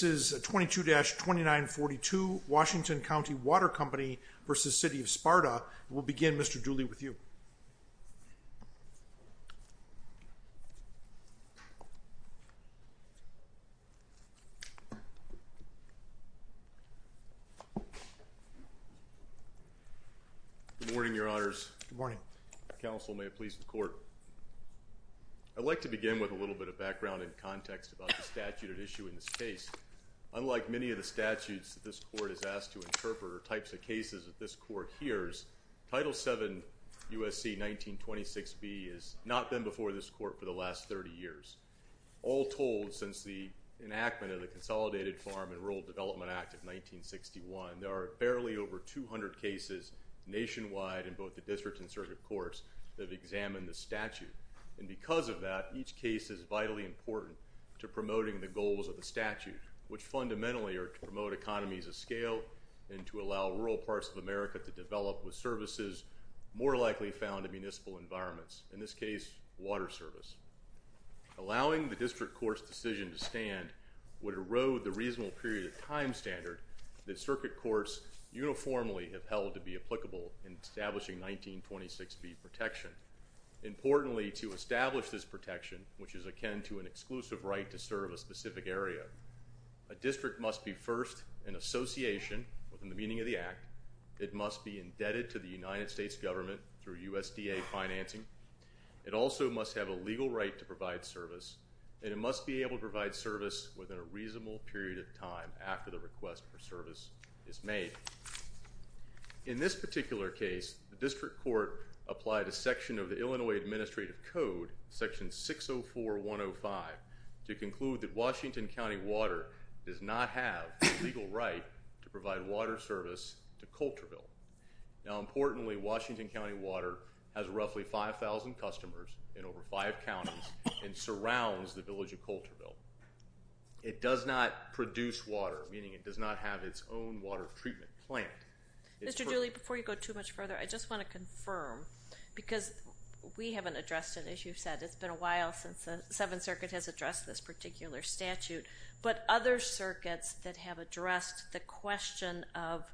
This is 22-2942 Washington County Water Company v. City of Sparta. We'll begin Mr. Dooley with you. Good morning, your honors. Good morning. Counsel, may it please the court. I'd like to begin with a little bit of background and context about the statute at issue in this case. Unlike many of the statutes that this court is asked to interpret or types of cases that this court hears, Title VII USC 1926B has not been before this court for the last 30 years. All told, since the enactment of the Consolidated Farm and Rural Development Act of 1961, there are barely over 200 cases nationwide in both the district and circuit courts that have examined the statute. And because of that, each case is vitally important to promoting the goals of the statute, which fundamentally are to promote economies of scale and to allow rural parts of America to develop with services more likely found in municipal environments, in this case water service. Allowing the district court's decision to stand would erode the reasonable period of time standard that circuit courts uniformly have held to be applicable in establishing 1926B protection. Importantly, to establish this protection, which is akin to an exclusive right to serve a specific area, a district must be first an association within the meaning of the Act. It must be indebted to the United States government through USDA financing. It also must have a legal right to provide service, and it must be able to provide service within a reasonable period of time after the request for service is made. In this particular case, the district court applied a section of the Illinois Administrative Code, Section 604-105, to conclude that Washington County water does not have a legal right to provide water service to Colterville. Now importantly, Washington County water has roughly 5,000 customers in over five counties and surrounds the village of Colterville. It does not produce water, meaning it does not have its own water treatment plant. Mr. Dooley, before you go too much further, I just want to confirm, because we haven't addressed it, as you've said, it's been a while since the Seventh Circuit has addressed this particular statute, but other circuits that have addressed the question of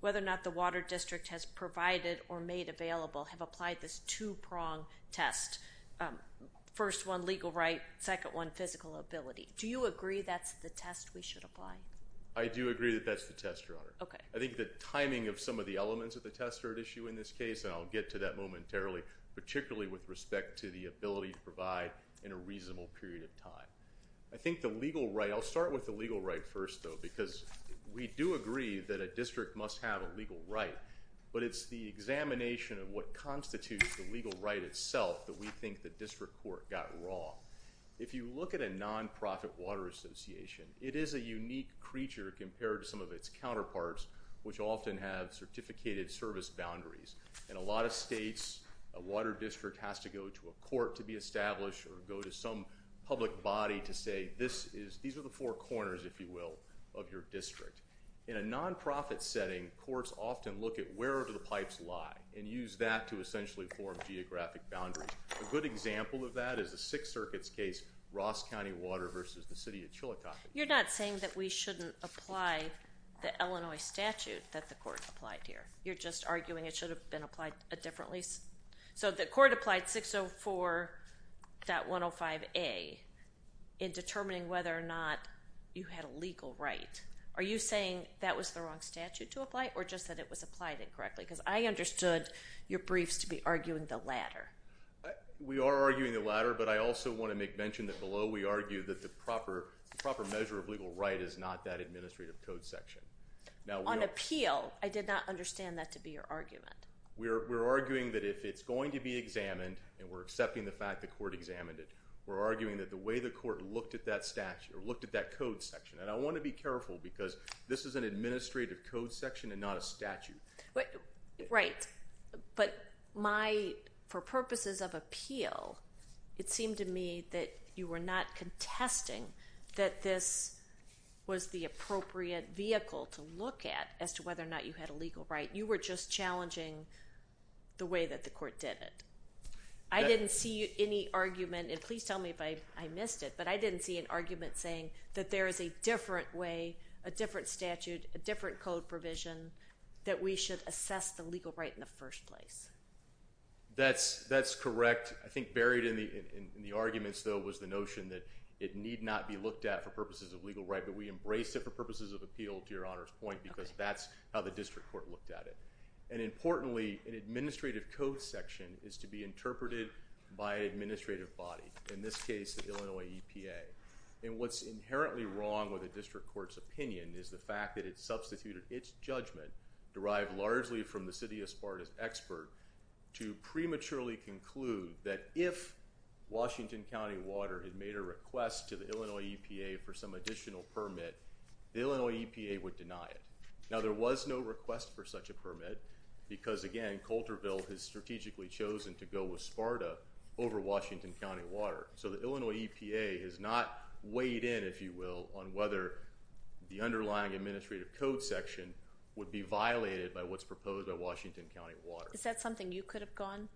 whether or not the Water District has provided or made available have applied this two-prong test. First one legal right, second one physical ability. Do you agree that's the test we should apply? I do agree that that's the test, Your Honor. Okay. I think the timing of some of the elements of the test are at issue in this case, and I'll get to that momentarily, particularly with respect to the ability to provide in a reasonable period of time. I think the legal right, I'll start with the legal right first though, because we do agree that a district must have a legal right, but it's the examination of what constitutes the legal right itself that we think the district court got wrong. If you look at a nonprofit water association, it is a unique creature compared to some of its counterparts, which often have certificated service boundaries. In a lot of states, a water district has to go to a court to be established or go to some public body to say this is, these are the four corners, if you will, of your district. In a nonprofit setting, courts often look at where do the pipes lie and use that to essentially form geographic boundaries. A good example of that is a Sixth Circuit's case, Ross County Water versus the City of Chillicothe. You're not saying that we shouldn't apply the Illinois statute that the court applied here. You're just arguing it should have been applied a different lease? So the court applied 604.105A in determining whether or not you had a legal right. Are you saying that was the wrong statute to apply or just that it was applied incorrectly? Because I understood your briefs to be arguing the latter. We are arguing the latter, but I also want to make mention that below we argue that the proper measure of legal right is not that administrative code section. Now on appeal, I did not understand that to be your argument. We're arguing that if it's going to be examined and we're accepting the fact the court examined it, we're arguing that the way the court looked at that statute or looked at that code section, and I want to be careful because this is an administrative code section and not a statute. Right, but for purposes of appeal, it seemed to me that you were not contesting that this was the appropriate vehicle to look at as to whether or not you had a legal right. You were just challenging the way that the court did it. I didn't see any argument, and please tell me if I missed it, but I didn't see an argument saying that there is a different way, a different statute, a different code provision that we should assess the legal right in the first place. That's correct. I think buried in the arguments though was the notion that it need not be looked at for purposes of legal right, but we embrace it for purposes of appeal to your Honor's point because that's how the district court looked at it. And importantly, an administrative code section is to be interpreted by an administrative body, in this case the Illinois EPA. And what's inherently wrong with a district court's opinion is the fact that it substituted its judgment, derived largely from the City of Sparta's expert, to prematurely conclude that if Washington County Water had made a request to the Illinois EPA for some additional permit, the Illinois EPA would deny it. Now there was no request for such a permit because again, Coulterville has strategically chosen to go with Sparta over Washington County Water. So the Illinois EPA has not weighed in, if you will, on whether the underlying administrative code section would be violated by what's proposed by Washington County Water. Is that something you could have gone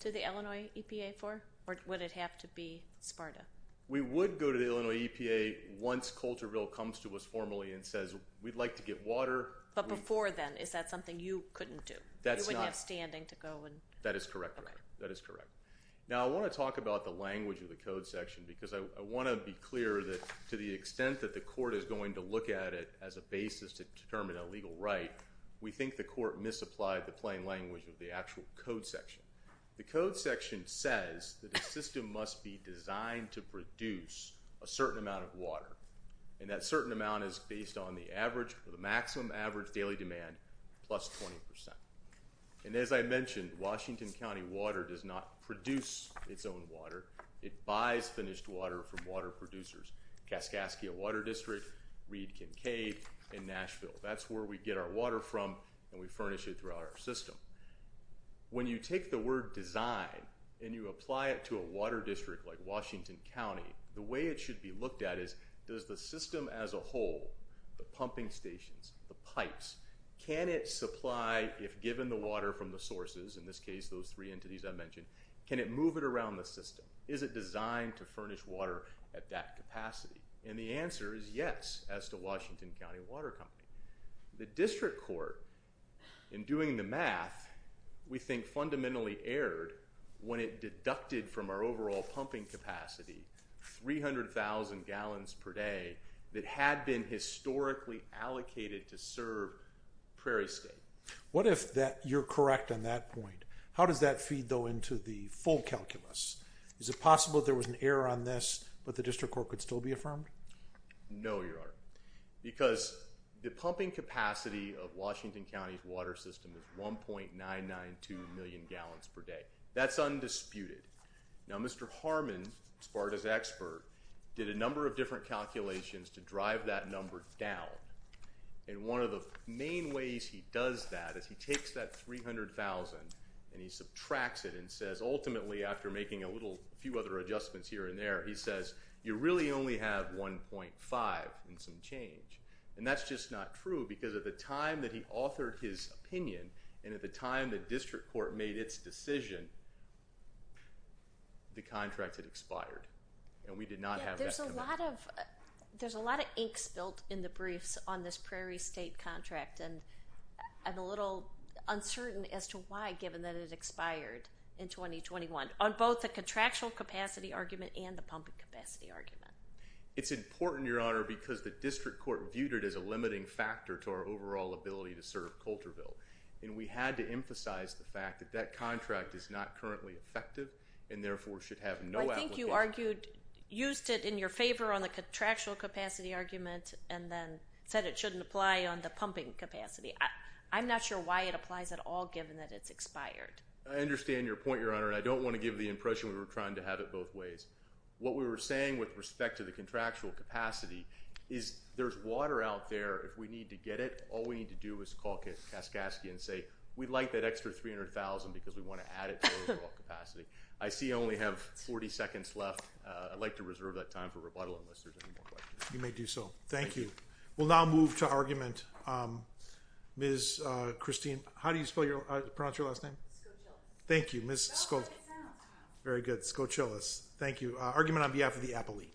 to the Illinois EPA for? Or would it have to be Sparta? We would go to the Illinois EPA once Coulterville comes to us formally and says we'd like to get water. But before then, is that something you couldn't do? That's not. You wouldn't have standing to go and... That is correct. Now I want to talk about the language of the code section because I want to be clear that to the extent that the court is going to look at it as a basis to determine a legal right, we think the court misapplied the plain language of the actual code section. The code section says that the system must be designed to produce a certain amount of water, and that certain amount is based on the average or the maximum average daily demand plus 20%. And as I mentioned, Washington County Water does not produce its own water. It buys finished water from water producers. Kaskaskia Water District, Reed-Kincaid, and Nashville. That's where we get our water from and we furnish it throughout our system. When you take the word design and you apply it to a water district like Washington County, the way it should be looked at is, does the system as a whole, the pumping stations, the pipes, can it supply, if given the water from the sources, in this case those three entities I mentioned, can it move it around the system? Is it designed to furnish water at that capacity? And the answer is yes, as to Washington County Water Company. The district court, in doing the math, we think fundamentally erred when it deducted from our overall pumping capacity 300,000 gallons per day that had been historically allocated to serve Prairie State. What if that, you're correct on that point, how does that feed though into the full calculus? Is it possible there was an error on this but the district court could still be affirmed? No, your honor, because the pumping capacity of Washington County's water system is 1.992 million gallons per day. That's undisputed. Now Mr. Harmon, as far as expert, did a number of different calculations to see if he does that. If he takes that 300,000 and he subtracts it and says ultimately, after making a little few other adjustments here and there, he says you really only have 1.5 and some change. And that's just not true because at the time that he authored his opinion and at the time the district court made its decision, the contract had expired and we did not have that. There's a lot of ink spilled in the briefs on this Prairie State contract and I'm a little uncertain as to why given that it expired in 2021 on both the contractual capacity argument and the pumping capacity argument. It's important, your honor, because the district court viewed it as a limiting factor to our overall ability to serve Colterville and we had to emphasize the fact that that contract is not currently effective and therefore should have no application. I think you argued, used it in your favor on the contractual capacity argument and then said it shouldn't apply on the pumping capacity. I'm not sure why it applies at all given that it's expired. I understand your point, your honor. I don't want to give the impression we were trying to have it both ways. What we were saying with respect to the contractual capacity is there's water out there. If we need to get it, all we need to do is call Kaskaskia and say we'd like that extra 300,000 because we want to add it to our overall capacity. I see I only have 40 seconds left. I'd like to reserve that time for rebuttal unless there's any more questions. You may do so. Thank you. We'll now move to argument. Ms. Christine, how do you spell your, pronounce your last name? Scochilles. Thank you. Ms. Scochilles. Very good. Scochilles. Thank you. Argument on behalf of the Applelea.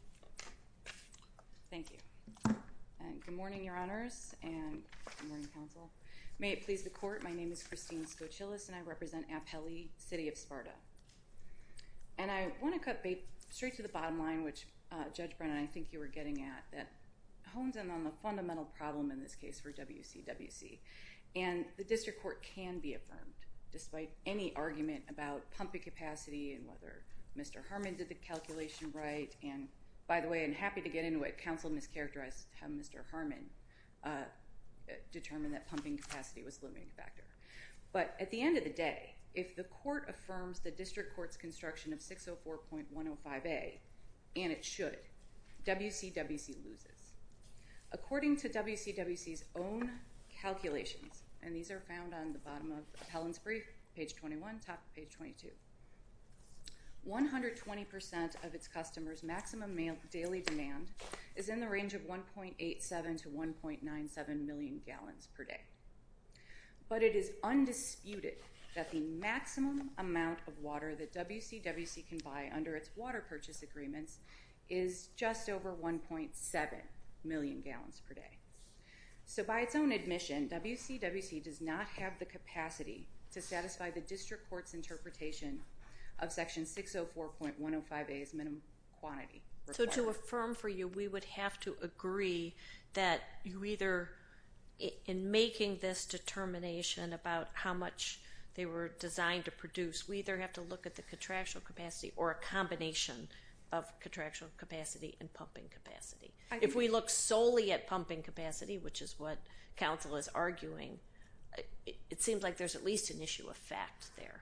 Thank you. Good morning, your honors, and good morning, counsel. May it please the court, my name is Christine Scochilles and I represent Applelea City of Sparta. And I want to cut straight to the bottom line, which Judge Brennan, I think you were getting at, that hones in on the fundamental problem in this case for WCWC. And the district court can be affirmed, despite any argument about pumping capacity and whether Mr. Harmon did the calculation right. And by the way, I'm happy to get into it, counsel mischaracterized how Mr. Harmon determined that pumping capacity was the limiting factor. But at the end of the day, if the court affirms the district court's construction of 604.105A, and it should, WCWC loses. According to WCWC's own calculations, and these are found on the bottom of Helen's brief, page 21, top of page 22, 120% of its customers' maximum daily demand is in the range of a maximum amount of water that WCWC can buy under its water purchase agreements is just over 1.7 million gallons per day. So by its own admission, WCWC does not have the capacity to satisfy the district court's interpretation of section 604.105A's minimum quantity. So to affirm for you, we would have to agree that you either, in making this determination about how much they were designed to produce, we either have to look at the contractual capacity or a combination of contractual capacity and pumping capacity. If we look solely at pumping capacity, which is what counsel is arguing, it seems like there's at least an issue of fact there.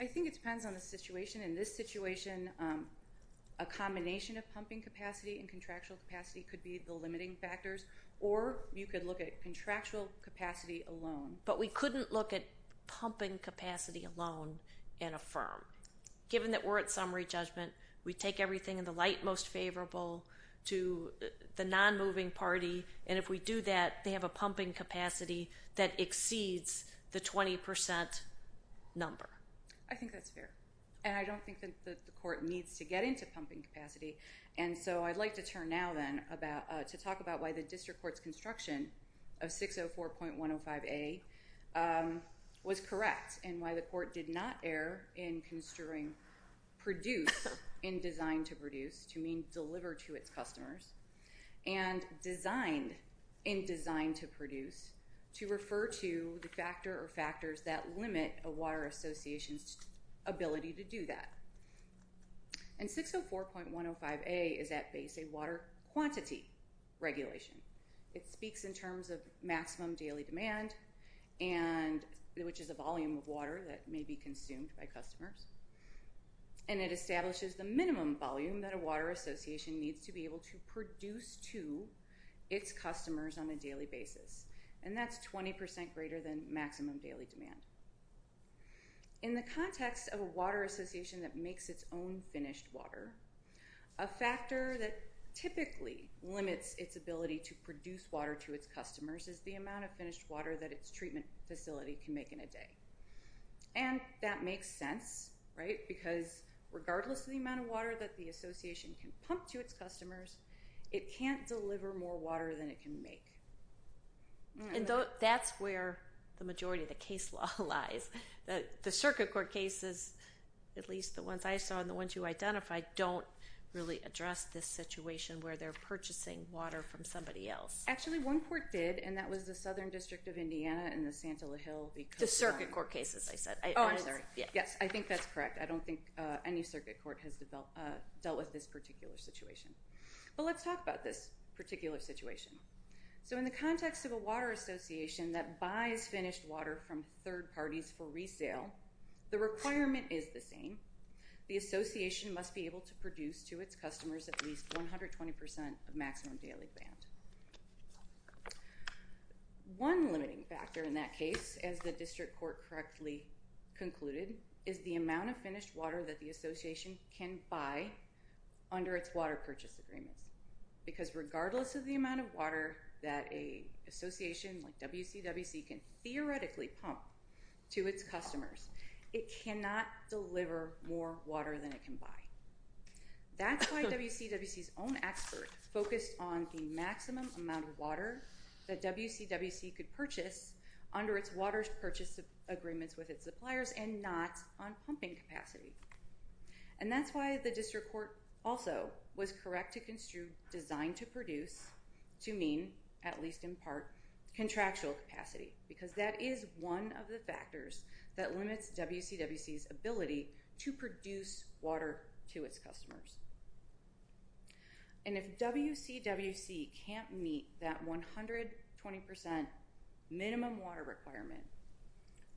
I think it depends on the situation. In this situation, a combination of pumping capacity and contractual capacity could be the limiting factors, or you could look at contractual capacity alone. But we couldn't look at pumping capacity alone and affirm. Given that we're at summary judgment, we take everything in the light most favorable to the non-moving party, and if we do that, they have a pumping capacity that exceeds the 20% number. I think that's fair. And I don't think that the court needs to get into pumping capacity. And so I'd like to turn now then to talk about why the district was designed to produce, to mean deliver to its customers, and designed, in design to produce, to refer to the factor or factors that limit a water association's ability to do that. And 604.105A is at base a water quantity regulation. It speaks in terms of maximum daily demand, which is a volume of a water association needs to be able to produce to its customers on a daily basis. And that's 20% greater than maximum daily demand. In the context of a water association that makes its own finished water, a factor that typically limits its ability to produce water to its customers is the amount of finished water that its water association can pump to its customers. It can't deliver more water than it can make. And that's where the majority of the case law lies. The circuit court cases, at least the ones I saw and the ones you identified, don't really address this situation where they're purchasing water from somebody else. Actually, one court did, and that was the Southern District of Indiana and the Santa La Hill. The circuit court cases, I said. Oh, I'm sorry. Yes, I think that's correct. I don't think any circuit court has dealt with this particular situation. But let's talk about this particular situation. So in the context of a water association that buys finished water from third parties for resale, the requirement is the same. The association must be able to produce to its customers at least 120% of maximum daily demand. One limiting factor in that case, as the district court correctly concluded, is the amount of finished water that the association can buy under its water purchase agreements. Because regardless of the amount of water that a association like WCWC can theoretically pump to its customers, it cannot deliver more water than it can buy. That's why WCWC's own expert focused on the maximum amount of water that WCWC could purchase under its water purchase agreements with its suppliers and not on pumping capacity. And that's why the district court also was correct to construe designed to produce to mean, at least in part, contractual capacity. Because that is one of the factors that limits WCWC's ability to produce water to its customers. And if WCWC can't meet that 120% minimum water requirement,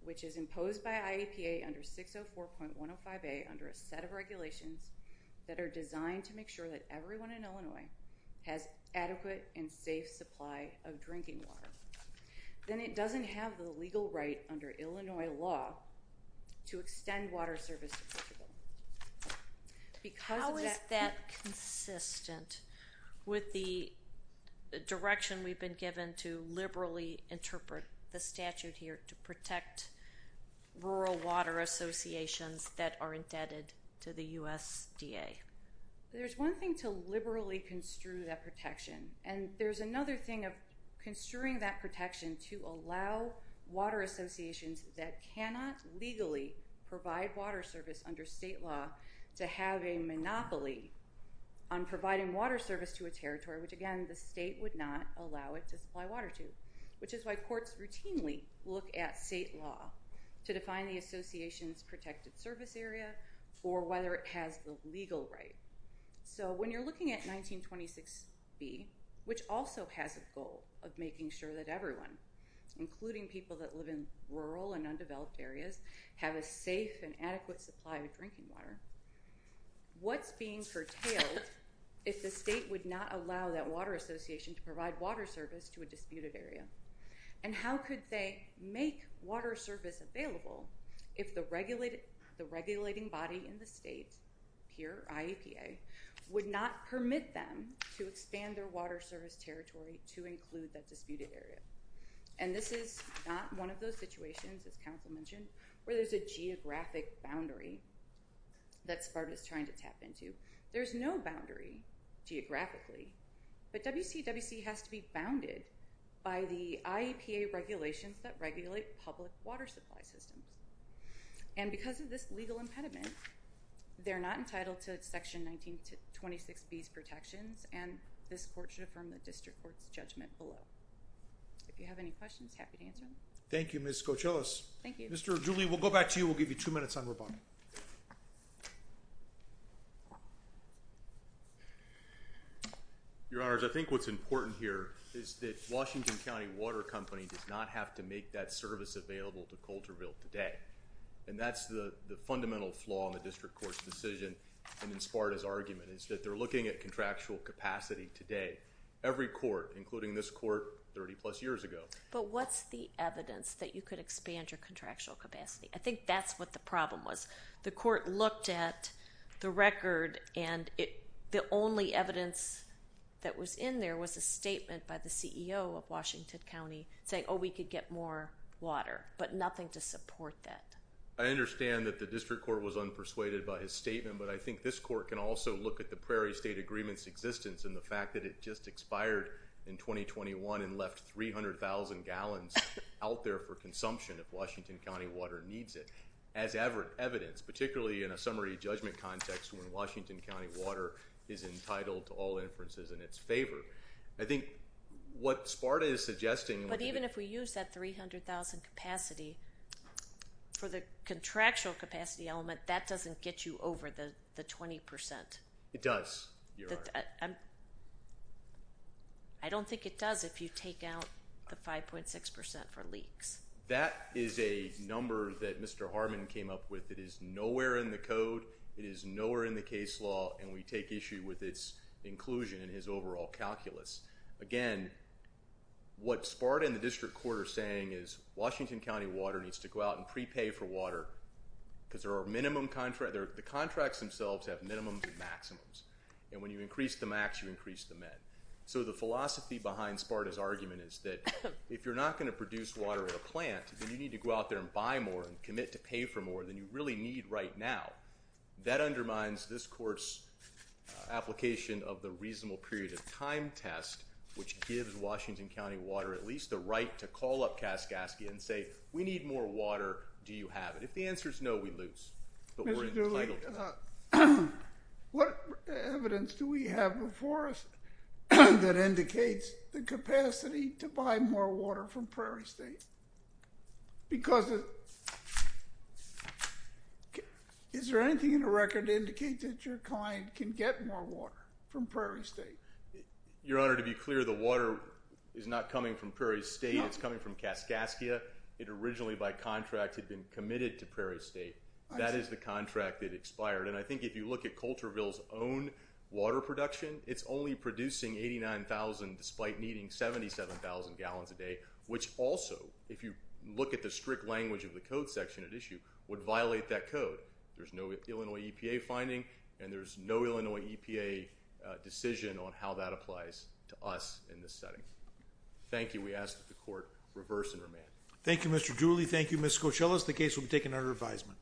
which is imposed by IEPA under 604.105A under a set of regulations that are designed to make sure that everyone in Illinois has adequate and safe supply of drinking water, then it doesn't have the legal right under Illinois law to extend water service to Portugal. How is that consistent with the direction we've been given to liberally interpret the statute here to protect rural water associations that are indebted to the USDA? There's one thing to liberally construe that protection, and there's another thing of construing that protection to allow water associations that cannot legally provide water service under state law to have a monopoly on providing water service to a territory, which again, the state would not allow it to supply water to. Which is why courts routinely look at state law to define the association's protected service area or whether it has the legal right. So when you're looking at 1926B, which also has a goal of making sure that everyone, including people that live in rural and undeveloped areas, have a safe and adequate supply of drinking water, what's being curtailed if the state would not allow that water association to provide water service to a disputed area? And how could they make water service available if the regulating body in the state, PEER, IEPA, would not permit them to expand their water service territory to include that disputed area? And this is not one of those situations, as counsel mentioned, where there's a geographic boundary. That SPART is trying to tap into. There's no boundary geographically, but WCWC has to be bounded by the IEPA regulations that regulate public water supply systems. And because of this legal impediment, they're not entitled to section 1926B's protections, and this court should affirm the district court's judgment below. If you have any questions, happy to answer them. Thank you, Ms. Cochellos. Thank you. Mr. Dooley, we'll go back to you. We'll give you two minutes on rebuttal. Your Honors, I think what's important here is that Washington County Water Company does not have to make that service available to Colterville today. And that's the fundamental flaw in the district court's decision and in SPARTA's argument, is that they're looking at contractual capacity today. Every court, including this court 30-plus years ago. But what's the evidence that you could expand your contractual capacity? I think that's what the problem was. The court looked at the record, and the only evidence that was in there was a statement by the CEO of Washington County saying, oh, we could get more water. But nothing to support that. I understand that the district court was unpersuaded by his statement. But I think this court can also look at the Prairie State Agreement's existence and the fact that it just expired in 2021 and left 300,000 gallons out there for consumption if Washington County Water needs it. As evidence, particularly in a summary judgment context when Washington County Water is entitled to all inferences in its favor. I think what SPARTA is suggesting... But even if we use that 300,000 capacity, for the contractual capacity element, that doesn't get you over the 20%. It does, Your Honor. I don't think it does if you take out the 5.6% for leaks. That is a number that Mr. Harmon came up with. It is nowhere in the code. It is nowhere in the case law. And we take issue with its inclusion in his overall calculus. Again, what SPARTA and the district court are saying is Washington County Water needs to go out and prepay for water because the contracts themselves have minimums and maximums. And when you increase the max, you increase the min. So the philosophy behind SPARTA's argument is that if you're not going to produce water at a plant, then you need to go out there and buy more and commit to pay for more than you really need right now. That undermines this court's application of the reasonable period of time test, which gives Washington County Water at least the right to call up Kaskaskia and say, we need more water. Do you have it? If the answer is no, we lose. But we're entitled to it. What evidence do we have before us that indicates the capacity to buy more water from Prairie State? Because is there anything in the record to indicate that your client can get more water from Prairie State? Your Honor, to be clear, the water is not coming from Prairie State. It's coming from Kaskaskia. It originally, by contract, had been committed to Prairie State. That is the contract that expired. And I think if you look at Colterville's own water production, it's only producing 89,000, despite needing 77,000 gallons a day, which also, if you look at the strict language of the code section at issue, would violate that code. There's no Illinois EPA finding, and there's no Illinois EPA decision on how that applies to us in this setting. Thank you. We ask that the court reverse and remand. Thank you, Mr. Dooley. Thank you, Ms. Coachella. The case will be taken under advisement.